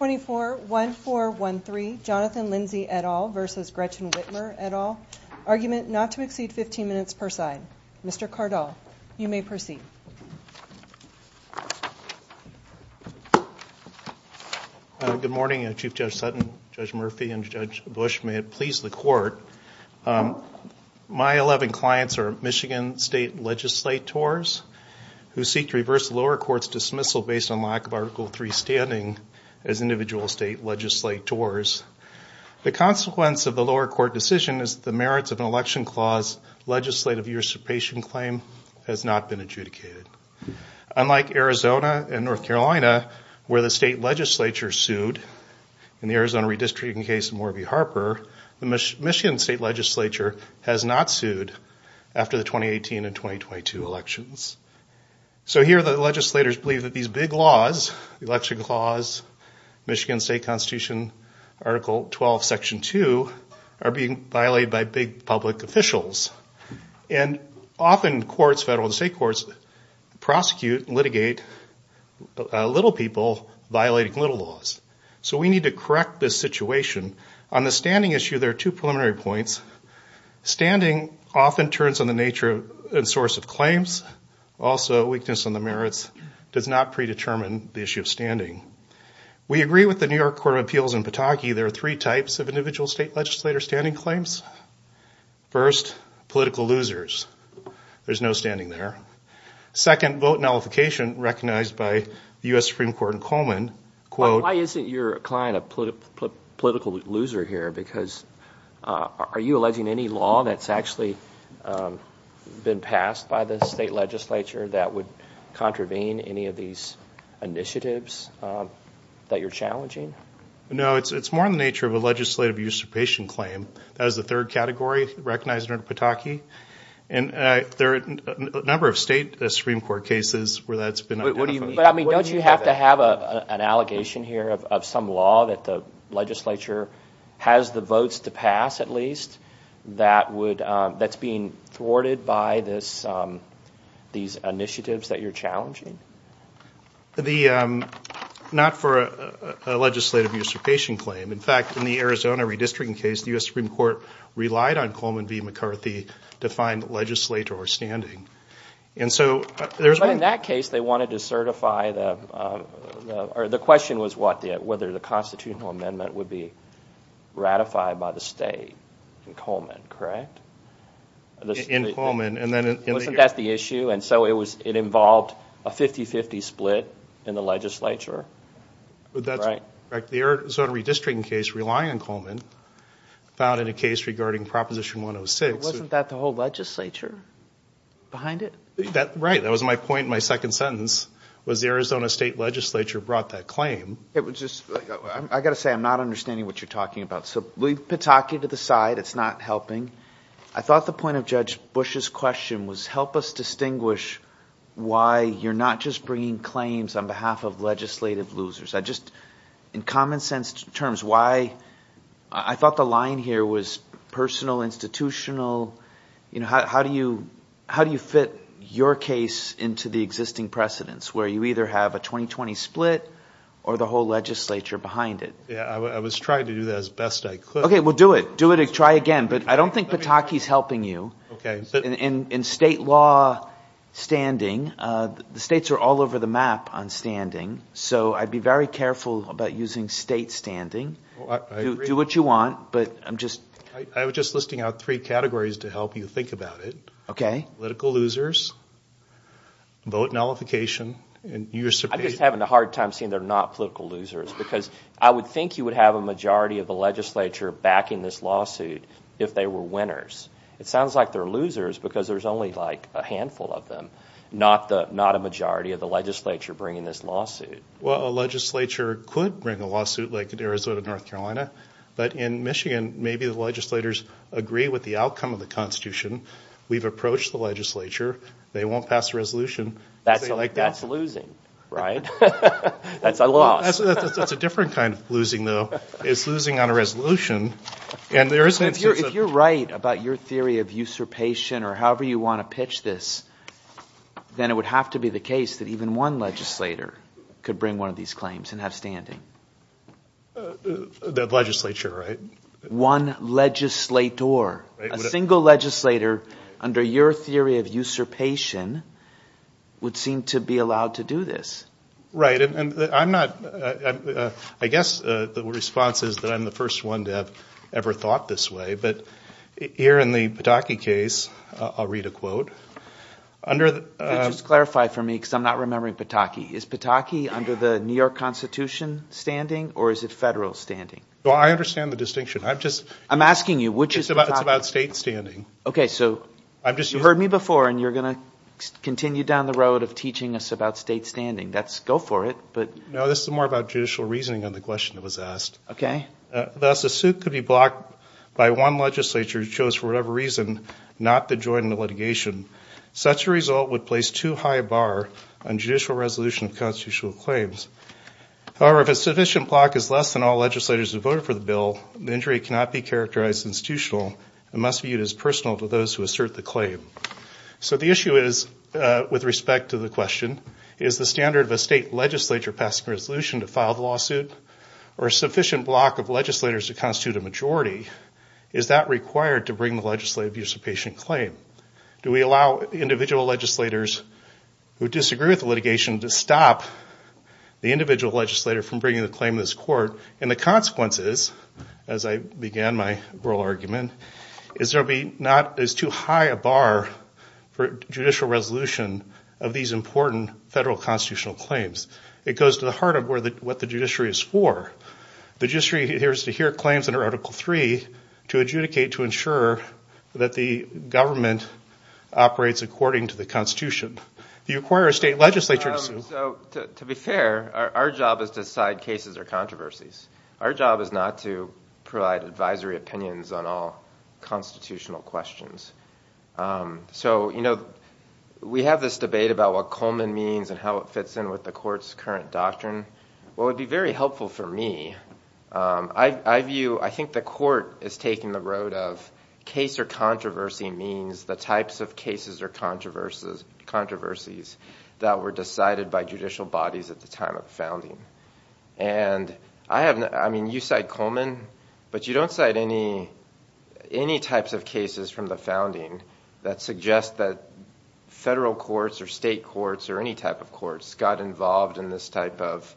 24-1413 Jonathan Lindsey et al. versus Gretchen Whitmer et al. Argument not to exceed 15 minutes per side. Mr. Cardall, you may proceed. Good morning, Chief Judge Sutton, Judge Murphy, and Judge Bush. May it please the court, my 11 clients are Michigan state legislators who seek to reverse the lower court's dismissal based on lack of Article 3 standing as individual state legislators. The consequence of the lower court decision is the merits of an election clause legislative usurpation claim has not been adjudicated. Unlike Arizona and North Carolina, where the state legislature sued in the Arizona redistricting case of Morby Harper, the Michigan state legislature has not sued after the 2018 and 2022 elections. So here the legislators believe that these big laws, the election clause, Michigan State Constitution, Article 12, Section 2, are being violated by big public officials. And often courts, federal and state courts, prosecute and litigate little people violating little laws. So we need to correct this situation. On the standing issue, there are two preliminary points. Standing often turns on the nature and source of claims. Also, weakness on the merits does not predetermine the issue of standing. We agree with the New York Court of Appeals in Pataki, there are three types of individual state legislator standing claims. First, political losers. There's no standing there. Second, vote nullification recognized by the U.S. Supreme Court in Why isn't your client a political loser here? Because are you alleging any law that's actually been passed by the state legislature that would contravene any of these initiatives that you're challenging? No, it's more in the nature of a legislative usurpation claim. That is the third category recognized under Pataki. And there are a number of state Supreme Court cases where that's been But I mean, don't you have to have an allegation here of some law that the legislature has the votes to pass, at least, that's being thwarted by these initiatives that you're challenging? Not for a legislative usurpation claim. In fact, in the Arizona redistricting case, the U.S. Supreme Court relied on Coleman v. McCarthy to find legislator standing. But in that case, they wanted to certify the, or the question was what, whether the constitutional amendment would be ratified by the state in Coleman, correct? Wasn't that the issue? And so it involved a 50-50 split in the legislature. That's right. The Arizona redistricting case, relying on Coleman, found in a case regarding Proposition 106. Wasn't that the whole legislature behind it? That, right, that was my point in my second sentence, was the Arizona state legislature brought that claim. It was just, I gotta say, I'm not understanding what you're talking about. So leave Pataki to the side. It's not helping. I thought the point of Judge Bush's question was, help us distinguish why you're not just bringing claims on behalf of legislative losers. I just, in common sense terms, why, I thought the line here was personal, institutional, you know, how do you fit your case into the existing precedence, where you either have a 2020 split or the whole legislature behind it. Yeah, I was trying to do that as best I could. Okay, well do it. Do it, try again. But I don't think Pataki's helping you. Okay. In state law standing, the states are all over the map on standing. So I'd be very careful about using state standing. Do what you want, but I'm just... I was just listing out three categories to help you think about it. Okay. Political losers, vote nullification, and you're... I'm just having a hard time seeing they're not political losers, because I would think you would have a majority of the legislature backing this lawsuit if they were winners. It sounds like they're losers because there's only like a handful of them, not a majority of the legislature bringing this lawsuit. Well, a legislature could bring a lawsuit like in Arizona, North Carolina, but in Michigan, maybe the legislators agree with the outcome of the constitution. We've approached the legislature. They won't pass a resolution. That's losing, right? That's a loss. That's a different kind of losing, though. It's losing on a resolution, and there is... If you're right about your theory of usurpation or however you want to pitch this, then it would have to be the case that even one legislator could bring one of these claims and have standing. The legislature, right? One legislator. A single legislator, under your theory of usurpation, would seem to be allowed to do this. Right, and I'm not... I guess the response is that I'm the first one to have ever thought this way, but here in the Pataki case, I'll read a quote. Just clarify for me, because I'm not remembering Pataki. Is Pataki under the New York Constitution standing, or is it federal standing? Well, I understand the distinction. I'm just... I'm asking you, which is Pataki? It's about state standing. Okay, so you heard me before, and you're gonna continue down the road of teaching us about state standing. That's... Go for it, but... No, this is more about judicial reasoning on the question that was asked. Okay. Thus, a suit could be blocked by one legislature who chose, for whatever reason, not to join the litigation. Such a result would place too high a bar on judicial resolution of constitutional claims. However, if a sufficient block is less than all legislators who voted for the bill, the injury cannot be characterized as institutional and must be viewed as personal to those who assert the claim. So the issue is, with respect to the question, is the standard of a state legislature passing a resolution to file the lawsuit, or a sufficient block of legislators to constitute a majority, is that required to bring the legislative participation claim? Do we allow individual legislators who disagree with the litigation to stop the individual legislator from bringing the claim to this court? And the consequence is, as I began my oral argument, is there'll be... not... it's too high a bar for judicial resolution of these important federal constitutional claims. It goes to the heart of where the... what the judiciary is for. The judiciary hears to hear claims under Article 3 to adjudicate to ensure that the government operates according to the Constitution. Do you require a state legislature to sue? So, to be fair, our job is to decide cases or controversies. Our job is not to provide advisory opinions on all constitutional questions. So, you know, we have this debate about what Coleman means and how it fits in with the court's current doctrine. Well, it would be very helpful for me. I view... I think the court is taking the road of case or controversy means the types of cases or controversies that were decided by judicial bodies at the time of the founding. And I have... I mean, you cite Coleman, but you don't cite any types of cases from the founding that suggest that federal courts or state courts or any type of courts got involved in this type of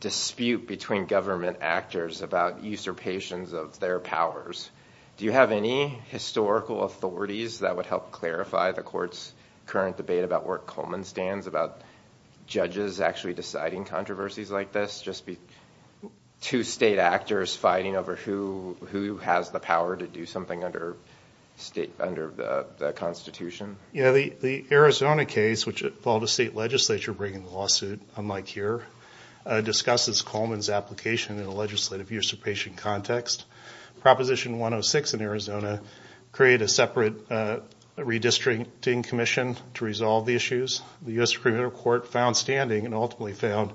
dispute between government actors about usurpations of their powers. Do you have any historical authorities that would help clarify the court's current debate about where Coleman stands, about judges actually deciding controversies like this? Just be... two state actors fighting over who... who has the power to do something under state... under the Constitution? You know, the Arizona case, which involved a state legislature bringing the lawsuit, unlike here, discusses Coleman's application in a legislative usurpation context. Proposition 106 in Arizona created a separate redistricting commission to resolve the issues. The U.S. Supreme Court found standing and ultimately found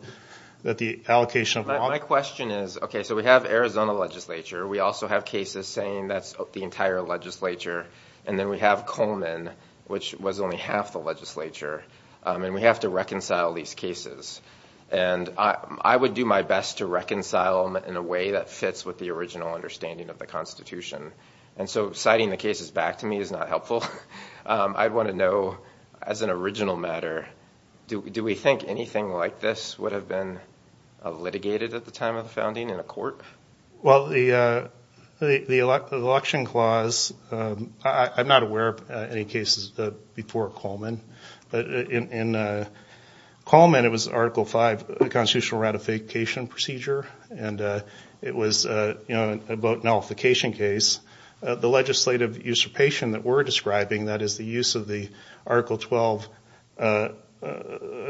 that the allocation of... My question is, okay, so we have Arizona legislature. We also have cases saying that's the entire legislature. And then we have Coleman, which was only half the legislature. And we have to reconcile these cases. And I would do my best to reconcile them in a way that fits with the original understanding of the Constitution. And so citing the cases back to me is not helpful. I'd want to know, as an original matter, do we think anything like this would have been litigated at the time of the founding in a court? Well, the election clause... I'm not aware of any cases before Coleman. But in Coleman, it was Article 5, the Constitutional Nullification Procedure. And it was, you know, a vote nullification case. The legislative usurpation that we're describing, that is the use of the Article 12,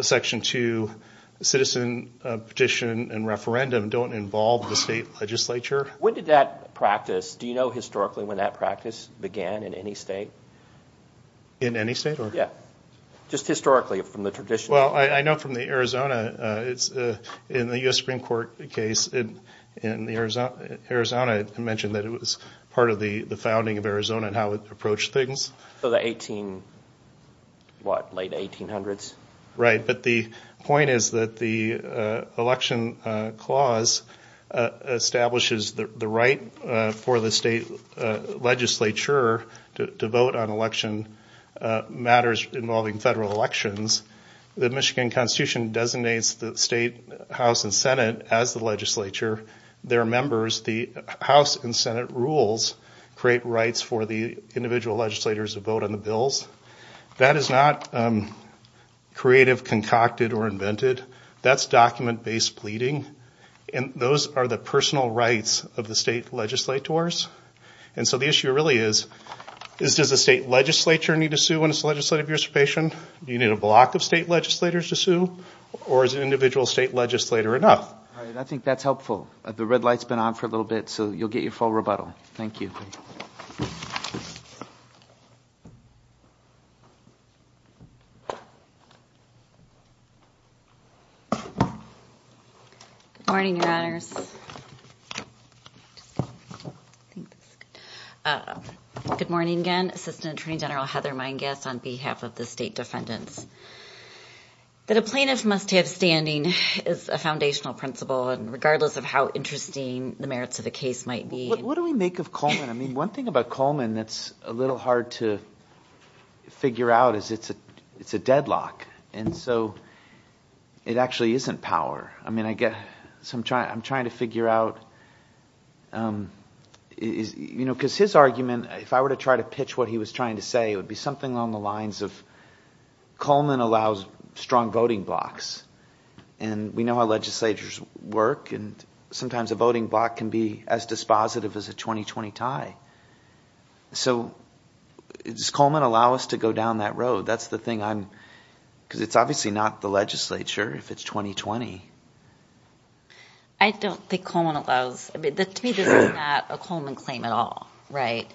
Section 2, citizen petition and referendum, don't involve the state legislature. When did that practice... Do you know historically when that practice began in any state? In any state? Yeah. Just historically, from the tradition? Well, I know from the Arizona, it's in the U.S. Supreme Court case. In the Arizona, it mentioned that it was part of the the founding of Arizona and how it approached things. So the 18, what, late 1800s? Right, but the point is that the election clause establishes the right for the state legislature to vote on election matters involving federal elections. The Michigan Constitution designates the state House and Senate as the legislature. Their members, the House and Senate, rules create rights for the individual legislators to vote on the bills. That is not creative, concocted, or invented. That's document-based pleading. And those are the personal rights of the state legislators. And so the issue really is, is does the state legislature need to sue when it's legislative participation? Do you need a block of state legislators to sue? Or is an individual state legislator enough? I think that's helpful. The red light's been on for a little bit, so you'll get your full rebuttal. Thank you. Good morning, Your Honors. Good morning again. Assistant Attorney General Heather Meingas on behalf of the state defendants. That a plaintiff must have standing is a foundational principle, and regardless of how interesting the merits of the case might be. What do we make of Coleman? I mean, one thing about Coleman that's a little hard to figure out is it's a deadlock. And so it actually isn't power. I mean, I guess I'm trying to figure out, you know, because his argument, if I were to try to pitch what he was trying to say, it would be something along the lines of, Coleman allows strong voting blocks. And we know how legislators work, and sometimes a voting block can be as dispositive as a 20-20 tie. So does Coleman allow us to go down that road? That's the thing I'm... because it's obviously not the legislature if it's 20-20. I don't think Coleman allows... I mean, to me this is not a Coleman claim at all, right?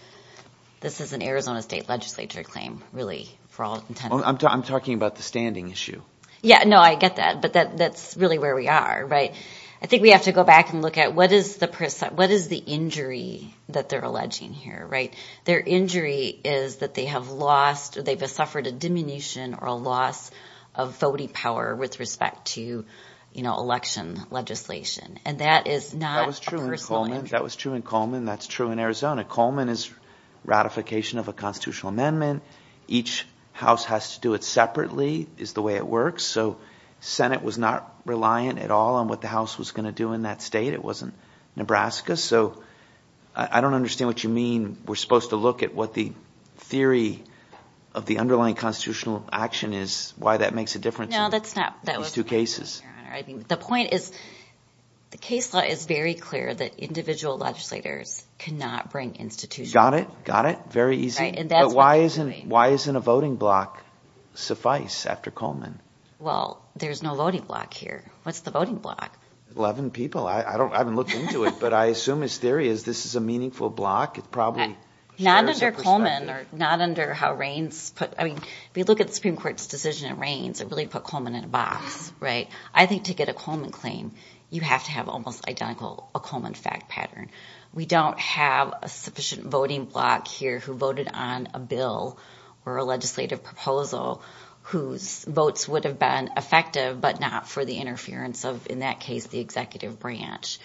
This is an Arizona State legislature claim, really, for all intents and purposes. I'm talking about the standing issue. Yeah, no, I get that. But that's really where we are, right? I think we have to go back and look at what is the perc... what is the injury that they're alleging here, right? Their injury is that they have lost, they've suffered a diminution or a loss of voting power with respect to, you know, election legislation. And that is not a personal injury. That was true in Coleman. That's true in Arizona. Coleman is ratification of a constitutional amendment. Each house has to do it separately, is the way it works. So Senate was not reliant at all on what the House was going to do in that state. It wasn't Nebraska. So I don't understand what you mean. We're supposed to look at what the theory of the underlying constitutional action is, why that makes a difference in these two cases. No, that's not what I mean, Your Honor. The point is, the case law is very clear that individual legislators cannot bring institutional power. Got it, got it. Very easy. Right, and that's what you mean. But why isn't a voting block suffice after Coleman? Well, there's no voting block here. What's the voting block? Eleven people. I haven't looked into it, but I assume his theory is this is a meaningful block. It probably... Not under Coleman or not under how Reins put... I mean, if you look at the Supreme Court's decision in Reins, it really put Coleman in a box, right? I think to get a Coleman claim, you have to have almost identical, a Coleman fact pattern. We don't have a sufficient voting block here who voted on a bill or a legislative proposal whose votes would have been effective, but not for the interference of, in that case, the executive branch,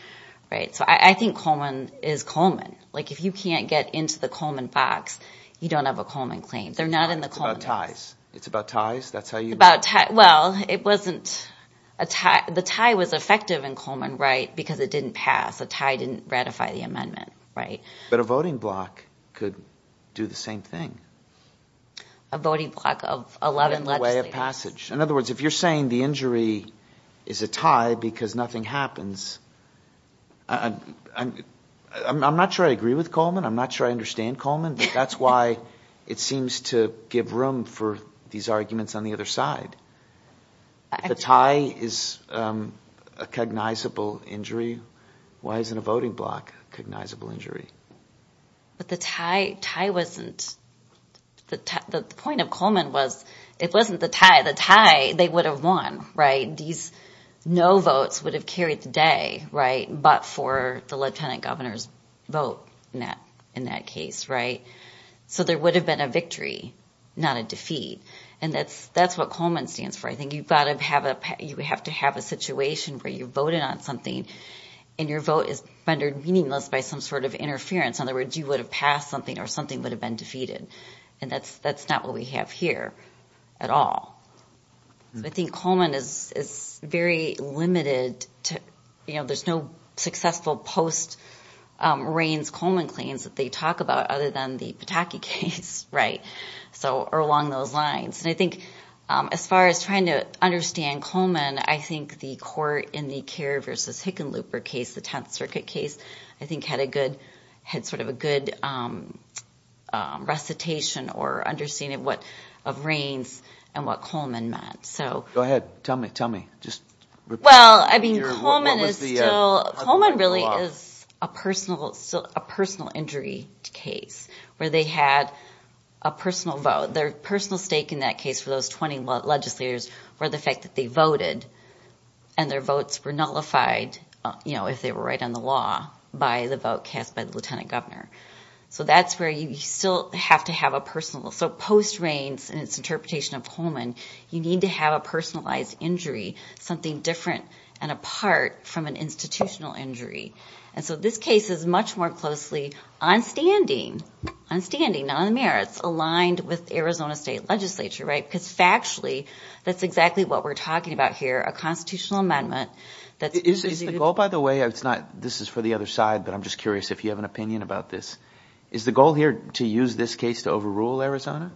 right? So I think Coleman is Coleman. Like, if you can't get into the Coleman box, you don't have a Coleman claim. They're not in the Coleman box. It's about ties. It's about ties? That's how you... It's about ties. Well, it wasn't... The tie was effective in Coleman, right, because it didn't pass. The tie didn't ratify the amendment, right? But a voting block could do the same thing. A voting block of 11 legislators. In the way of passage. In other words, if you're saying the injury is a tie because nothing happens, I'm not sure I agree with Coleman. I'm not sure I understand Coleman, but that's why it seems to give room for these arguments on the other side. If the tie is a cognizable injury, why isn't a voting block a cognizable injury? But the tie wasn't... The point of Coleman was it wasn't the tie. The tie, they would have won, right? These no votes would have carried the day, right, but for the lieutenant governor's vote in that case, right? So there would have been a victory, not a defeat. And that's what Coleman stands for. I think you've got to have a... You would have to have a situation where you voted on something and your vote is rendered meaningless by some sort of interference. In other words, you would have passed something or something would have been defeated. And that's not what we have here at all. I think Coleman is very limited to... There's no successful post-Raines-Coleman claims that they talk about other than the Pataki case, right? Or along those lines. And I think as far as trying to understand Coleman, I think the court in the Kerr v. Hickenlooper case, the Tenth Circuit case, I think had a good... Had sort of a good recitation or understanding of what... Of Raines and what Coleman meant. Go ahead. Tell me. Tell me. Just repeat. Well, I mean Coleman is still... Coleman really is a personal injury case where they had a personal vote. Their personal stake in that case for those 20 legislators were the fact that they voted and their votes were nullified if they were right on the law by the vote cast by the lieutenant governor. So that's where you still have to have a personal... So post-Raines and its interpretation of Coleman, you need to have a personalized injury, something different and apart from an institutional injury. And so this case is much more closely on standing, on standing, not on the merits, aligned with Arizona State Legislature, right? Because factually, that's exactly what we're talking about here, a constitutional amendment that's... Is the goal, by the way, it's not... This is for the other side, but I'm just curious if you have an opinion about this. Is the goal here to use this case to overrule Arizona?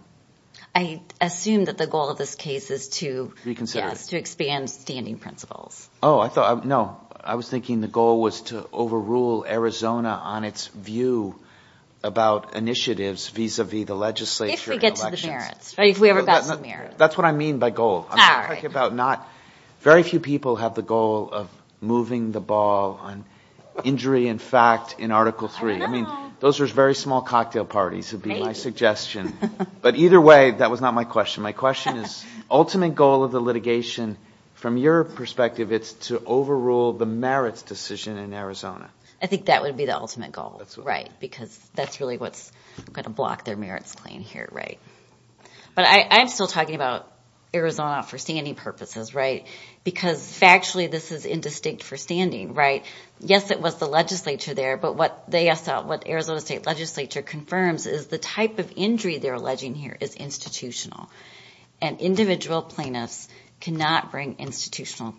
I assume that the goal of this case is to... Reconsider it. Yes, to expand standing principles. Oh, I thought... No, I was thinking the goal was to overrule Arizona on its view about initiatives vis-a-vis the legislature and elections. If we get to the merits, right? If we ever got to the merits. That's what I mean by goal. I'm talking about not... Very few people have the goal of moving the ball on injury and fact in Article 3. I don't know. I mean, those are very small cocktail parties, would be my suggestion. But either way, that was not my question. My question is, ultimate goal of the litigation, from your perspective, it's to overrule the merits decision in Arizona. I think that would be the ultimate goal, right? Because that's really what's going to block their merits claim here, right? But I'm still talking about Arizona for standing purposes, right? Because factually, this is indistinct for standing, right? Yes, it was the legislature there, but what Arizona State Legislature confirms is the type of injury they're alleging here is institutional. And individual plaintiffs cannot bring institutional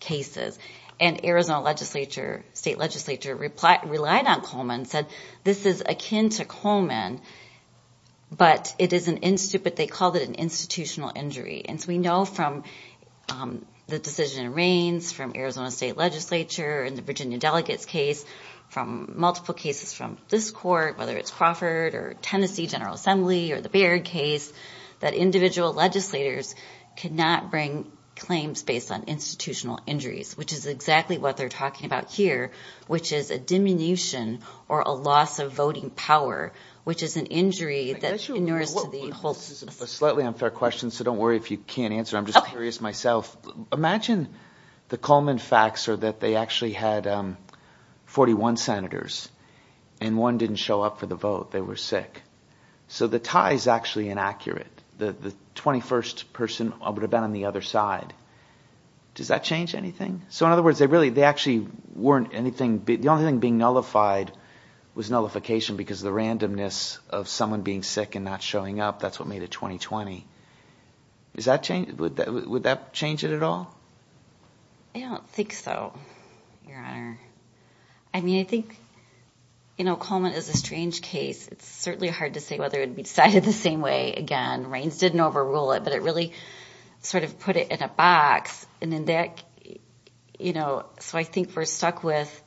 cases. And Arizona State Legislature relied on Coleman and said, this is akin to Coleman, but they called it an institutional injury. And so we know from the decision in Reins, from Arizona State Legislature, and the Virginia Delegates case, from multiple cases from this court, whether it's Crawford or Tennessee General Assembly or the Baird case, that individual legislators cannot bring claims based on institutional injuries, which is exactly what they're talking about here, which is a diminution or a loss of voting power, which is an injury that inures to the whole system. This is a slightly unfair question, so don't worry if you can't answer it. I'm just curious myself. Imagine the Coleman facts are that they actually had 41 senators, and one didn't show up for the vote. They were sick. So the tie is actually inaccurate. The 21st person would have been on the other side. Does that change anything? So in other words, they actually weren't anything – the only thing being nullified was nullification because of the randomness of someone being sick and not showing up. That's what made it 2020. Would that change it at all? I don't think so, Your Honor. I mean, I think Coleman is a strange case. It's certainly hard to say whether it would be decided the same way again. Reins didn't overrule it, but it really sort of put it in a box. So I think we're stuck with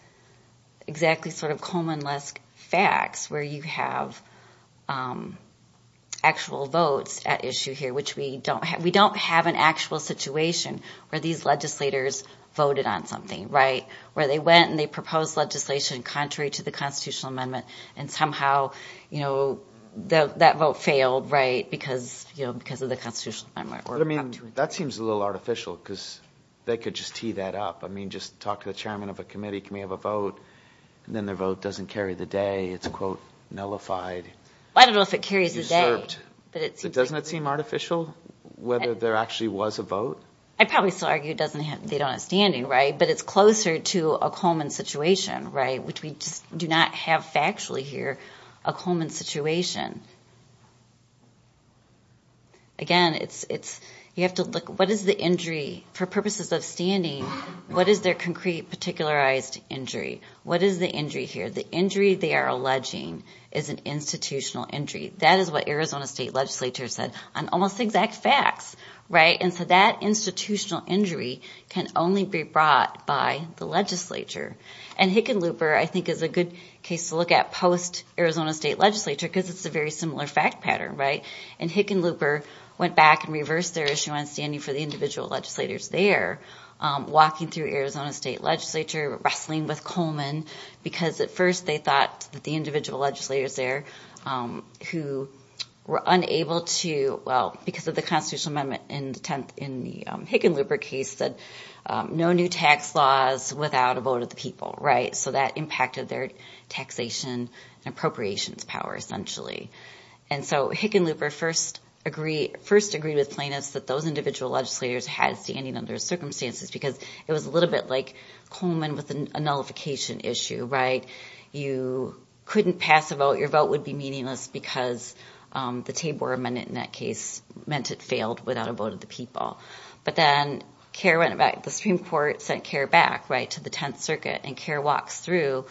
exactly sort of Coleman-esque facts where you have actual votes at issue here, which we don't have. We don't have an actual situation where these legislators voted on something, where they went and they proposed legislation contrary to the Constitutional Amendment, and somehow that vote failed because of the Constitutional Amendment. But I mean, that seems a little artificial because they could just tee that up. I mean, just talk to the chairman of a committee, committee of a vote, and then their vote doesn't carry the day. It's, quote, nullified. I don't know if it carries the day. Doesn't it seem artificial, whether there actually was a vote? I'd probably still argue they don't have standing, right? But it's closer to a Coleman situation, right, which we just do not have factually here, a Coleman situation. Again, it's, you have to look, what is the injury, for purposes of standing, what is their concrete, particularized injury? What is the injury here? The injury they are alleging is an institutional injury. That is what Arizona State Legislature said on almost exact facts, right? And so that institutional injury can only be brought by the legislature. And Hickenlooper, I think, is a good case to look at post-Arizona State Legislature because it's a very similar fact pattern, right? And Hickenlooper went back and reversed their issue on standing for the individual legislators there, walking through Arizona State Legislature, wrestling with Coleman, because at first they thought that the individual legislators there who were unable to, well, because of the Constitutional Amendment in the Hickenlooper case, said no new tax laws without a vote of the people, right? So that impacted their taxation and appropriations power, essentially. And so Hickenlooper first agreed with plaintiffs that those individual legislators had standing under circumstances because it was a little bit like Coleman with a nullification issue, right? You couldn't pass a vote, your vote would be meaningless because the Tabor Amendment in that case meant it failed without a vote of the people. But then CARE went back, the Supreme Court sent CARE back, right, to the Tenth Circuit, and CARE walks through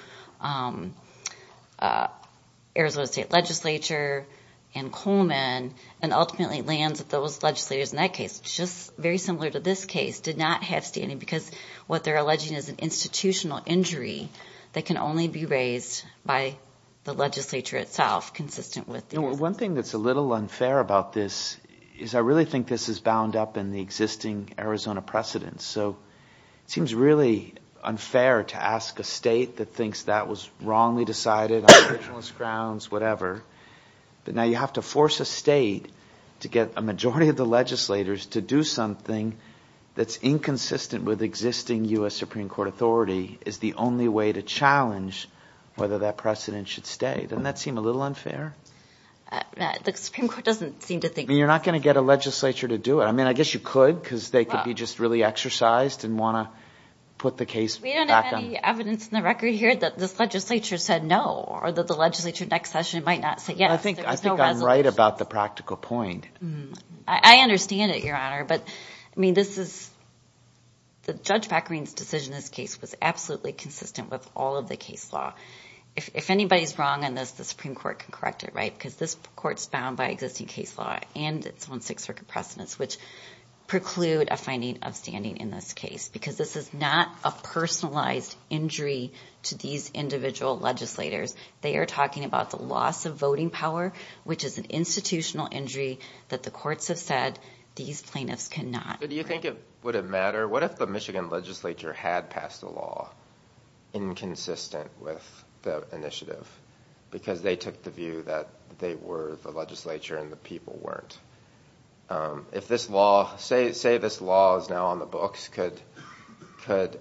Arizona State Legislature and Coleman and ultimately lands with those legislators in that case. It's just very similar to this case, did not have standing because what they're alleging is an institutional injury that can only be raised by the legislature itself, consistent with the existing... You know, one thing that's a little unfair about this is I really think this is bound up in the existing Arizona precedents. So it seems really unfair to ask a state that thinks that was wrongly decided on originalist grounds, whatever, but now you have to force a state to get a majority of the legislators to do something that's inconsistent with existing U.S. Supreme Court authority is the only way to challenge whether that precedent should stay. Doesn't that seem a little unfair? The Supreme Court doesn't seem to think... I mean, you're not going to get a legislature to do it. I mean, I guess you could because they could be just really exercised and want to put the case back on... We don't have any evidence in the record here that this legislature said no or that the legislature next session might not say yes. I think I'm right about the practical point. I understand it, Your Honor, but I mean, this is... The Judge Packerine's decision in this case was absolutely consistent with all of the case law. If anybody's wrong on this, the Supreme Court can correct it, right, because this court's bound by existing case law and its own Sixth Circuit precedents, which preclude a finding of standing in this case because this is not a personalized injury to these individual legislators. They are talking about the loss of voting power, which is an institutional injury that the courts have said these plaintiffs cannot... So do you think it would have mattered? What if the Michigan legislature had passed a law inconsistent with the initiative? Because they took the view that they were the legislature and the people weren't. If this law... Say this law is now on the books. Could,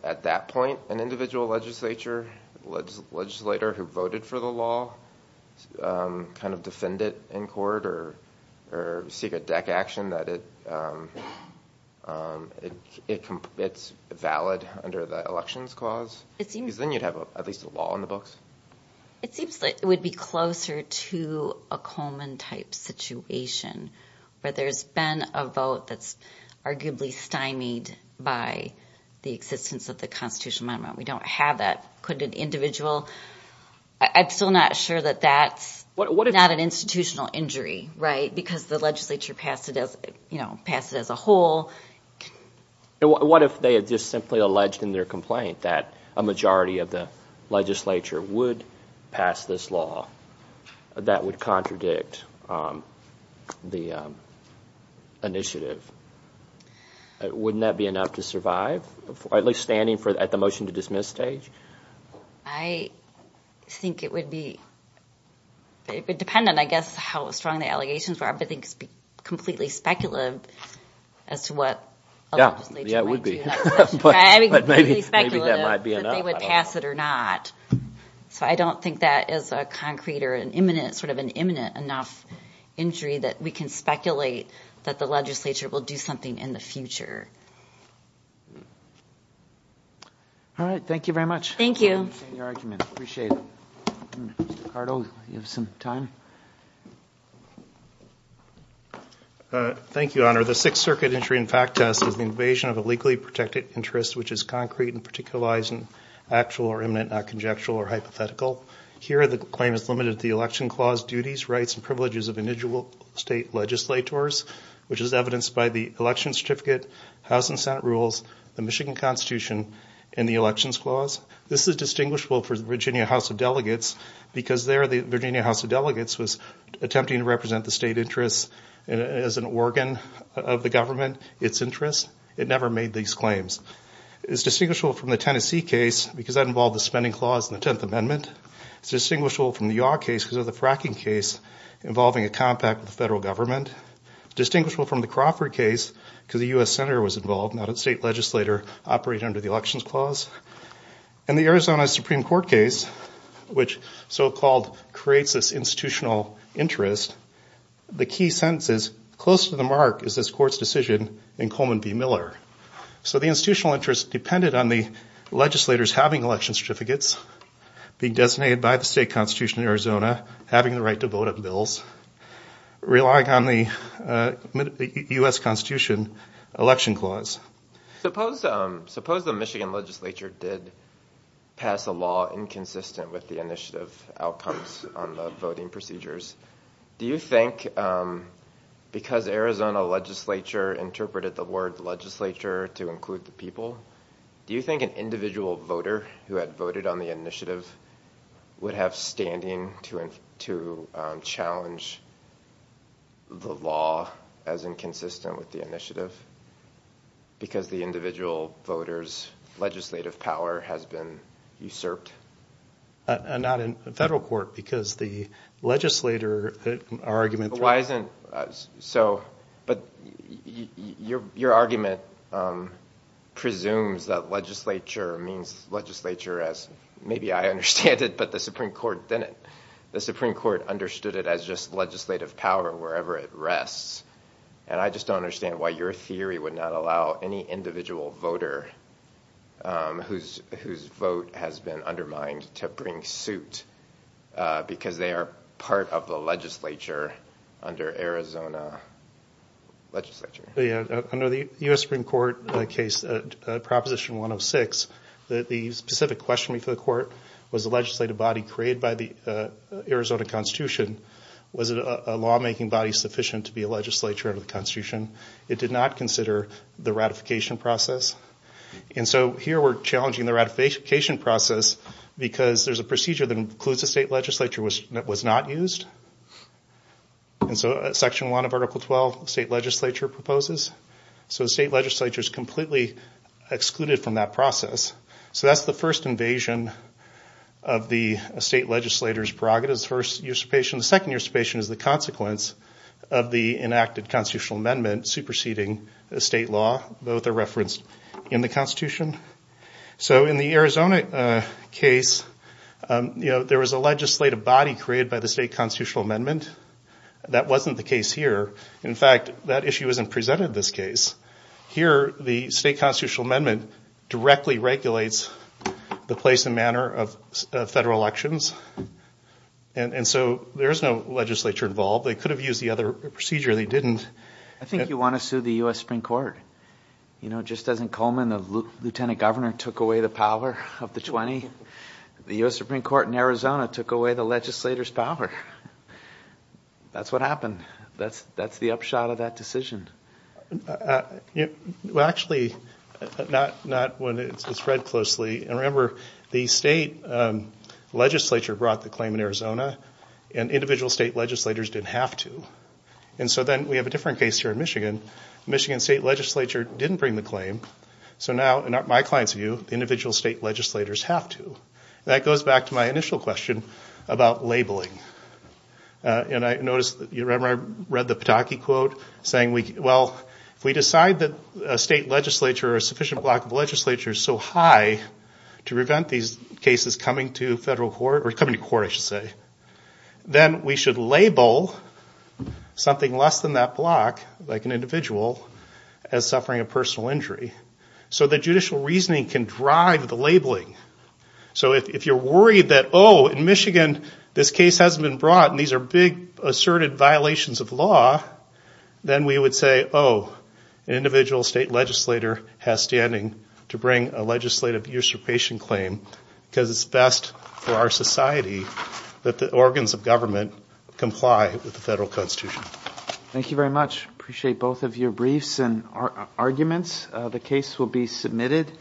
at that point, an individual legislator who voted for the law kind of defend it in court or seek a deck action that it's valid under the elections clause? Because then you'd have at least a law on the books. It seems like it would be closer to a Coleman-type situation, where there's been a vote that's arguably stymied by the existence of the Constitutional Amendment. We don't have that. Could an individual... I'm still not sure that that's not an institutional injury, right, because the legislature passed it as a whole. What if they had just simply alleged in their complaint that a majority of the legislature would pass this law that would contradict the initiative? Wouldn't that be enough to survive, at least standing at the motion-to-dismiss stage? I think it would be dependent, I guess, on how strong the allegations are. I think it would be completely speculative as to what a legislature might do. But maybe that might be enough. So I don't think that is a concrete or sort of an imminent enough injury that we can speculate that the legislature will do something in the future. All right. Thank you very much. Thank you, Honor. The Sixth Circuit Injury and Fact Test is the invasion of a legally protected interest which is concrete and particularized and actual or imminent, not conjectural or hypothetical. Here the claim is limited to the Election Clause duties, rights, and privileges of individual state legislators, which is evidenced by the Election Certificate, House and Senate Rules, the Michigan Constitution, and the Elections Clause. This is distinguishable for the Virginia House of Delegates because there the Virginia House of Delegates was attempting to represent the state interests of the state. It never made these claims. It's distinguishable from the Tennessee case because that involved the spending clause in the Tenth Amendment. It's distinguishable from the Yaw case because of the fracking case involving a compact with the federal government. It's distinguishable from the Crawford case because a U.S. Senator was involved, not a state legislator, operating under the Elections Clause. In the Arizona Supreme Court case, which so-called creates this institutional interest, the key sentence is, close to the mark is this court's decision in Coleman v. Miller. So the institutional interest depended on the legislators having election certificates, being designated by the state constitution in Arizona, having the right to vote on bills, relying on the U.S. Constitution Election Clause. Suppose the Michigan legislature did pass a law inconsistent with the initiative outcomes on the voting procedures. Do you think, because Arizona legislature interpreted the word legislature to include the people, do you think an individual voter who had voted on the initiative would have standing to challenge the law as inconsistent with the initiative? Because the individual voter's legislative power has been usurped? Not in federal court because the legislator argument... But your argument presumes that legislature means legislature as, maybe I understand it, but the Supreme Court didn't. The Supreme Court understood it as just legislative power wherever it rests. And I just don't understand why your theory would not allow any individual voter whose vote has been undermined to bring suit, because they are part of the legislature under Arizona legislature. Under the U.S. Supreme Court case, Proposition 106, the specific question before the court was the legislative body created by the Arizona Constitution. Was a lawmaking body sufficient to be a legislature under the Constitution? It did not consider the ratification process. And so here we're challenging the ratification process because there's a procedure that includes a state legislature that was not used. And so Section 1 of Article 12, state legislature proposes. So the state legislature is completely excluded from that process. So that's the first invasion of the state legislator's prerogatives. The second usurpation is the consequence of the enacted constitutional amendment superseding the state law. Both are referenced in the Constitution. So in the Arizona case, there was a legislative body created by the state constitutional amendment. That wasn't the case here. In fact, that issue isn't presented in this case. Here, the state constitutional amendment directly regulates the place and manner of federal elections. And so there's no legislature involved. They could have used the other procedure. I think you want to sue the U.S. Supreme Court. Just as in Coleman, the lieutenant governor took away the power of the 20, the U.S. Supreme Court in Arizona took away the legislator's power. That's what happened. That's the upshot of that decision. Well, actually, not when it's read closely. And remember, the state legislature brought the claim in Arizona, and individual state legislators didn't have to. And so then we have a different case here in Michigan. The Michigan state legislature didn't bring the claim. So now, in my client's view, individual state legislators have to. That goes back to my initial question about labeling. And I noticed, remember I read the Pataki quote saying, well, if we decide that a state legislature or a sufficient block of legislature is so high to prevent these cases coming to federal court, or coming to court, I should say, then we should label the individual state legislator. Something less than that block, like an individual, as suffering a personal injury. So the judicial reasoning can drive the labeling. So if you're worried that, oh, in Michigan, this case hasn't been brought, and these are big asserted violations of law, then we would say, oh, an individual state legislator has standing to bring a legislative usurpation claim, because it's best for our society that the organs of government comply with the federal constitution. Thank you very much. Appreciate both of your briefs and arguments. The case will be submitted.